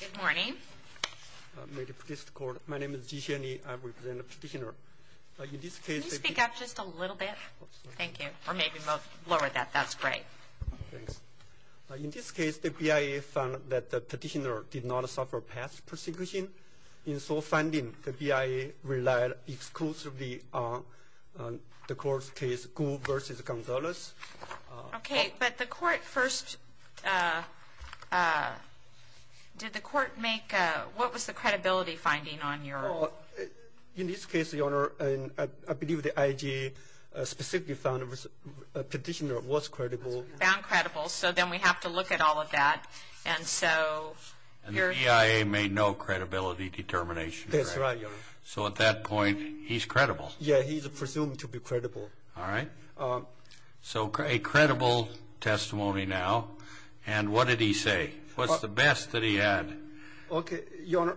Good morning. My name is Ji Hsien-Yi. I represent the petitioner. Can you speak up just a little bit? Thank you. Or maybe lower that. That's great. In this case, the BIA found that the petitioner did not suffer past persecution. In sole finding, the BIA relied exclusively on the court's case, Gould v. Gonzalez. Okay, but the court first... did the court make... what was the credibility finding on your... In this case, Your Honor, I believe the IG specifically found the petitioner was credible. Found credible. So then we have to look at all of that. And so... And the BIA made no credibility determination. That's right, Your Honor. So at that point, he's credible. Yeah, he's presumed to be credible. All right. So a credible testimony now. And what did he say? What's the best that he had? Okay, Your Honor,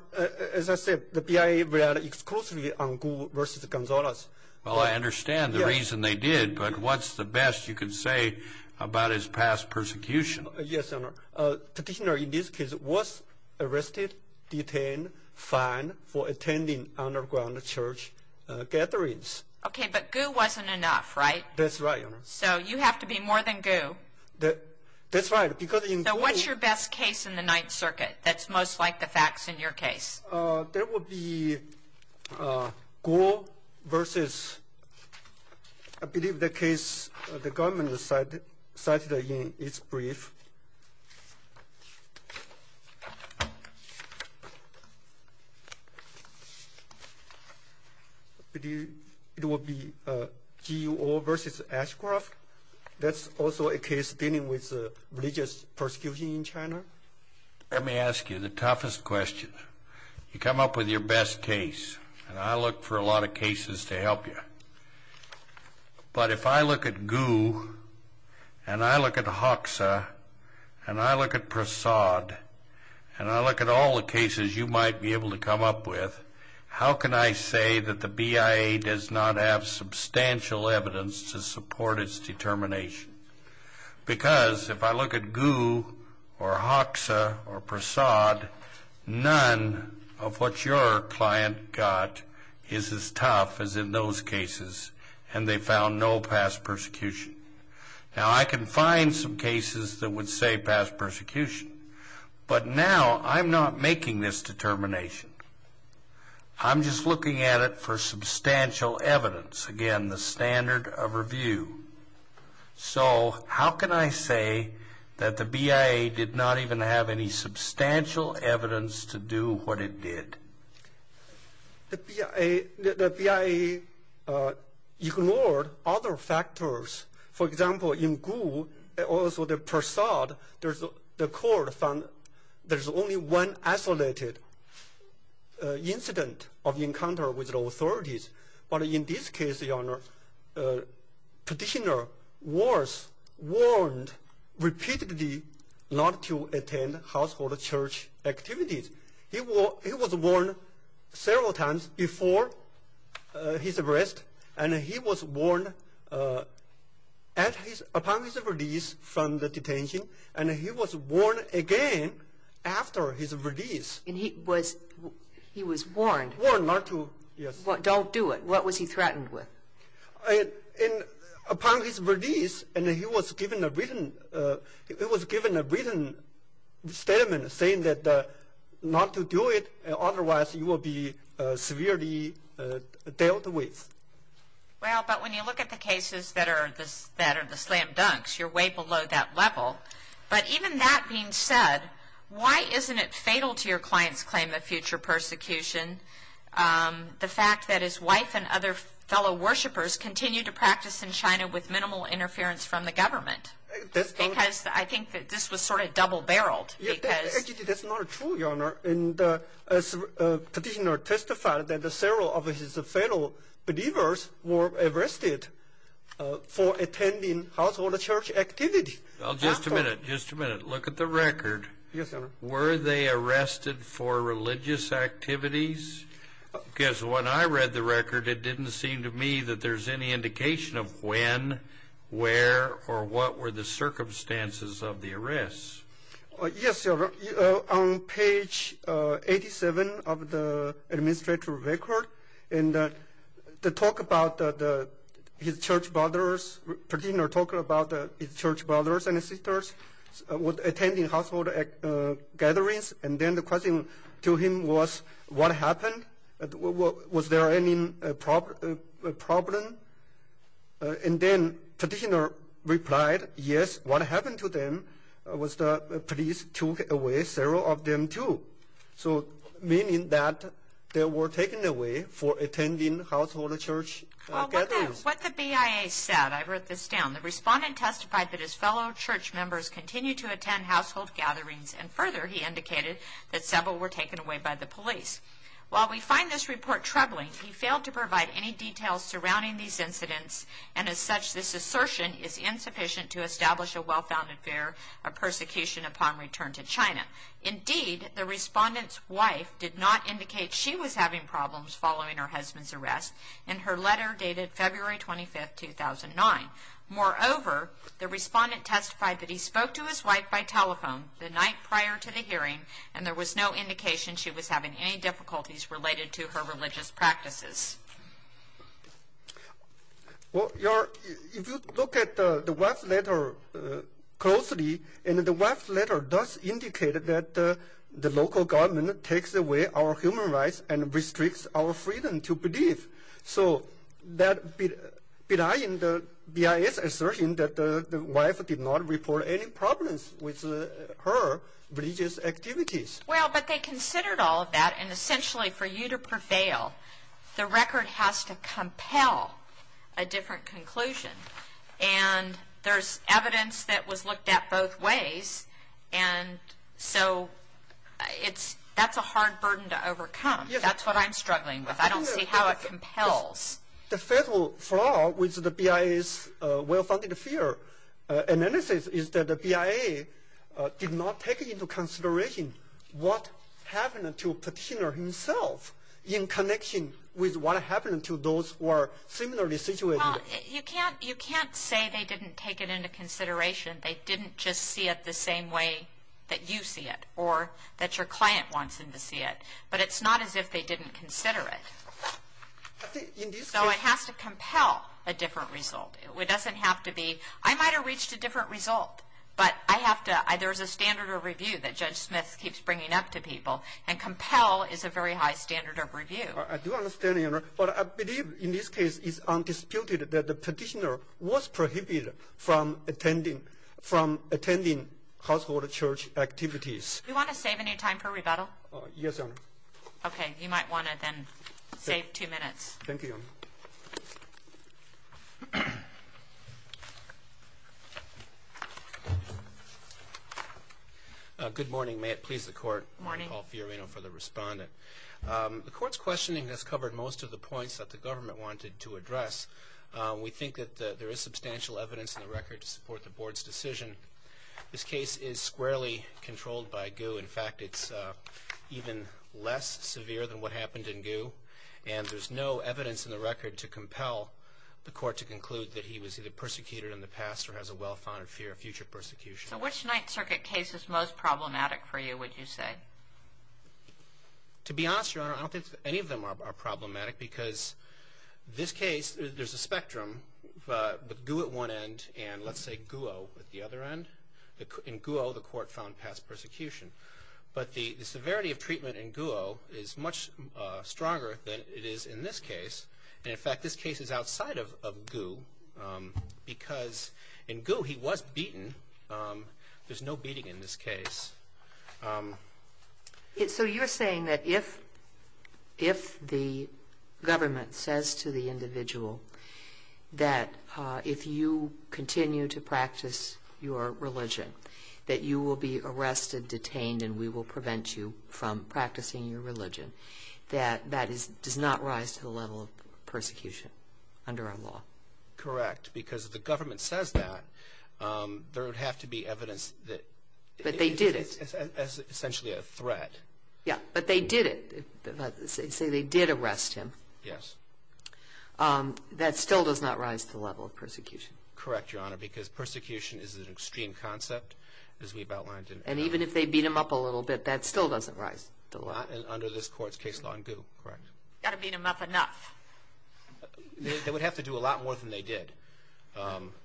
as I said, the BIA relied exclusively on Gould v. Gonzalez. Well, I understand the reason they did, but what's the best you can say about his past persecution? Yes, Your Honor. Petitioner in this case was arrested, detained, fined for attending underground church gatherings. Okay, but Gould wasn't enough, right? That's right, Your Honor. So you have to be more than Gould. That's right, because in Gould... So what's your best case in the Ninth Circuit that's most like the facts in your case? There will be Gould v. I believe the case the government cited in its brief. I believe it will be Guo v. Ashcroft. That's also a case dealing with religious persecution in China. Let me ask you the toughest question. You come up with your best case, and I look for a lot of cases to help you. But if I look at Guo and I look at Hoxa and I look at Prasad and I look at all the cases you might be able to come up with, how can I say that the BIA does not have substantial evidence to support its determination? Because if I look at Guo or Hoxa or Prasad, none of what your client got is as tough as in those cases, and they found no past persecution. Now, I can find some cases that would say past persecution, but now I'm not making this determination. I'm just looking at it for substantial evidence, again, the standard of review. So how can I say that the BIA did not even have any substantial evidence to do what it did? The BIA ignored other factors. For example, in Guo, also the Prasad, the court found there's only one isolated incident of encounter with the authorities. But in this case, Your Honor, practitioner was warned repeatedly not to attend household church activities. He was warned several times before his arrest, and he was warned upon his release from the detention, and he was warned again after his release. And he was warned? Warned not to, yes. Don't do it. What was he threatened with? Upon his release, he was given a written statement saying not to do it, otherwise you will be severely dealt with. Well, but when you look at the cases that are the slam dunks, you're way below that level. But even that being said, why isn't it fatal to your client's claim of future persecution the fact that his wife and other fellow worshippers continue to practice in China with minimal interference from the government? Because I think that this was sort of double-barreled. Actually, that's not true, Your Honor. And practitioner testified that several of his fellow believers were arrested for attending household church activities. Just a minute. Just a minute. Look at the record. Yes, Your Honor. Were they arrested for religious activities? Because when I read the record, it didn't seem to me that there's any indication of when, where, or what were the circumstances of the arrests. Yes, Your Honor. On page 87 of the administrative record, the talk about his church brothers, practitioner talking about his church brothers and sisters attending household gatherings, and then the question to him was, what happened? Was there any problem? And then practitioner replied, yes, what happened to them was the police took away several of them, too, meaning that they were taken away for attending household church gatherings. Well, what the BIA said, I wrote this down, the respondent testified that his fellow church members continue to attend household gatherings, and further, he indicated that several were taken away by the police. While we find this report troubling, he failed to provide any details surrounding these incidents, and as such, this assertion is insufficient to establish a well-founded fear of persecution upon return to China. Indeed, the respondent's wife did not indicate she was having problems following her husband's arrest, and her letter dated February 25, 2009. Moreover, the respondent testified that he spoke to his wife by telephone the night prior to the hearing, and there was no indication she was having any difficulties related to her religious practices. Well, Your Honor, if you look at the wife's letter closely, the wife's letter does indicate that the local government takes away our human rights and restricts our freedom to believe. So that belies the BIA's assertion that the wife did not report any problems with her religious activities. Well, but they considered all of that, and essentially, for you to prevail, the record has to compel a different conclusion. And there's evidence that was looked at both ways, and so that's a hard burden to overcome. That's what I'm struggling with. I don't see how it compels. The fatal flaw with the BIA's well-founded fear analysis is that the BIA did not take into consideration what happened to Petitioner himself in connection with what happened to those who are similarly situated. Well, you can't say they didn't take it into consideration. They didn't just see it the same way that you see it or that your client wants them to see it. But it's not as if they didn't consider it. So it has to compel a different result. It doesn't have to be, I might have reached a different result, but there's a standard of review that Judge Smith keeps bringing up to people, and compel is a very high standard of review. I do understand, Your Honor, but I believe in this case it's undisputed that Petitioner was prohibited from attending household church activities. Do you want to save any time for rebuttal? Yes, Your Honor. Okay, you might want to then save two minutes. Thank you, Your Honor. Good morning. May it please the Court. Good morning. I want to call Fiorino for the respondent. The Court's questioning has covered most of the points that the government wanted to address. We think that there is substantial evidence in the record to support the Board's decision. This case is squarely controlled by GU. In fact, it's even less severe than what happened in GU, and there's no evidence in the record to compel the Court to conclude that he was either persecuted in the past or has a well-founded fear of future persecution. So which Ninth Circuit case is most problematic for you, would you say? To be honest, Your Honor, I don't think any of them are problematic because this case, there's a spectrum, with GU at one end and, let's say, GUO at the other end. In GUO, the Court found past persecution. But the severity of treatment in GUO is much stronger than it is in this case. And, in fact, this case is outside of GU because in GU he was beaten. There's no beating in this case. So you're saying that if the government says to the individual that if you continue to practice your religion, that you will be arrested, detained, and we will prevent you from practicing your religion, that that does not rise to the level of persecution under our law? Correct. Because if the government says that, there would have to be evidence. But they did it. Essentially a threat. Yeah, but they did it. Say they did arrest him. Yes. That still does not rise to the level of persecution. Correct, Your Honor, because persecution is an extreme concept, as we've outlined. And even if they beat him up a little bit, that still doesn't rise to the level. Under this Court's case law in GU, correct. Got to beat him up enough. They would have to do a lot more than they did.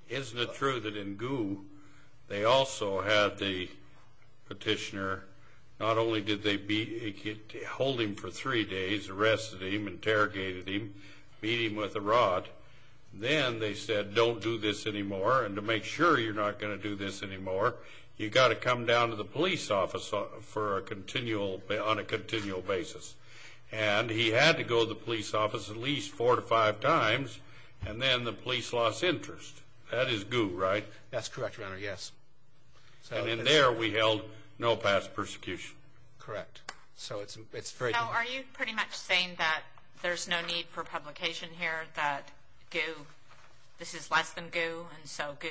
Isn't it true that in GU they also had the petitioner, not only did they hold him for three days, arrested him, interrogated him, beat him with a rod. Then they said, don't do this anymore, and to make sure you're not going to do this anymore, you've got to come down to the police office on a continual basis. And he had to go to the police office at least four to five times, and then the police lost interest. That is GU, right? That's correct, Your Honor, yes. And in there we held no past persecution. Correct. Are you pretty much saying that there's no need for publication here, that this is less than GU, and so GU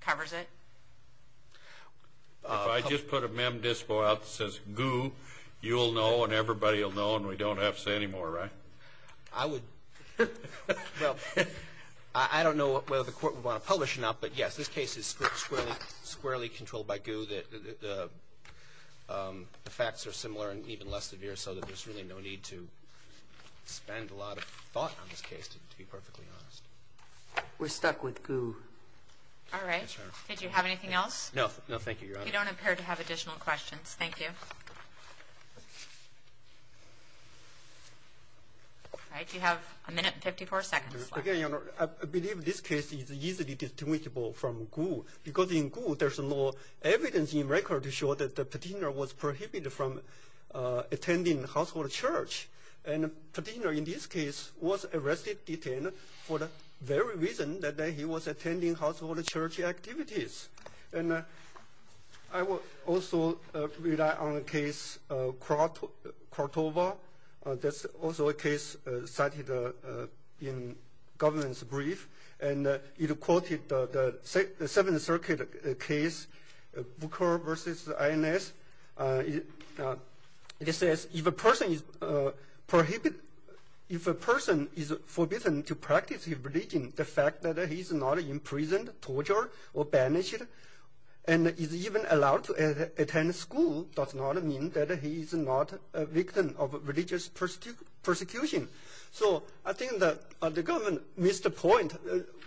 covers it? If I just put a mem dispo out that says GU, you'll know and everybody will know and we don't have to say anymore, right? I would, well, I don't know whether the Court would want to publish it or not, but yes, this case is squarely controlled by GU. The facts are similar and even less severe, so there's really no need to spend a lot of thought on this case, to be perfectly honest. We're stuck with GU. All right. Did you have anything else? No. No, thank you, Your Honor. You don't appear to have additional questions. Thank you. All right, you have a minute and 54 seconds left. Again, Your Honor, I believe this case is easily distinguishable from GU because in GU there's no evidence in record to show that attending household church, and Petino in this case was arrested, detained for the very reason that he was attending household church activities. And I will also rely on the case Cordova. That's also a case cited in government's brief, and it quoted the Seventh Circuit case, Booker v. INS. It says if a person is forbidden to practice a religion, the fact that he is not imprisoned, tortured, or banished, and is even allowed to attend school does not mean that he is not a victim of religious persecution. So I think the government missed the point.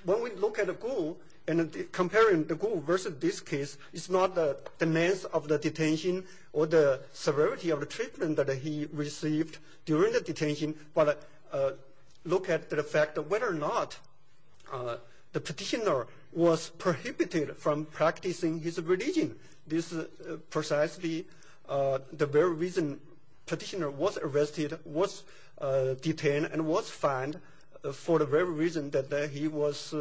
When we look at GU and comparing the GU versus this case, it's not the mass of the detention or the severity of the treatment that he received during the detention, but look at the fact of whether or not the petitioner was prohibited from practicing his religion. This is precisely the very reason petitioner was arrested, was detained, and was fined for the very reason that he was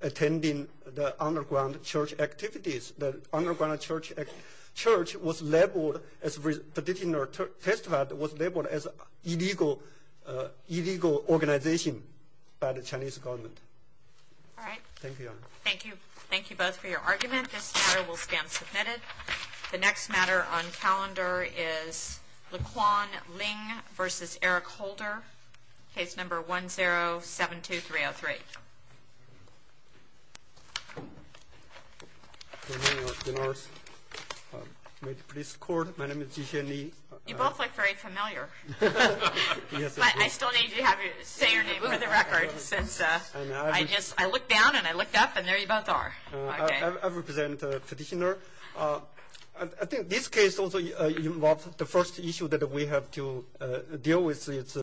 attending the underground church activities. The underground church was labeled, as petitioner testified, was labeled as illegal organization by the Chinese government. All right. Thank you, Your Honor. Thank you. Thank you both for your argument. This matter will stand submitted. The next matter on calendar is Laquan Ling v. Eric Holder, case number 1072303. Good morning, Your Honor. May it please the Court, my name is Ji-Hsien Lee. You both look very familiar. But I still need you to say your name for the record since I looked down and I looked up and there you both are. I represent petitioner. I think this case also involves the first issue that we have to deal with.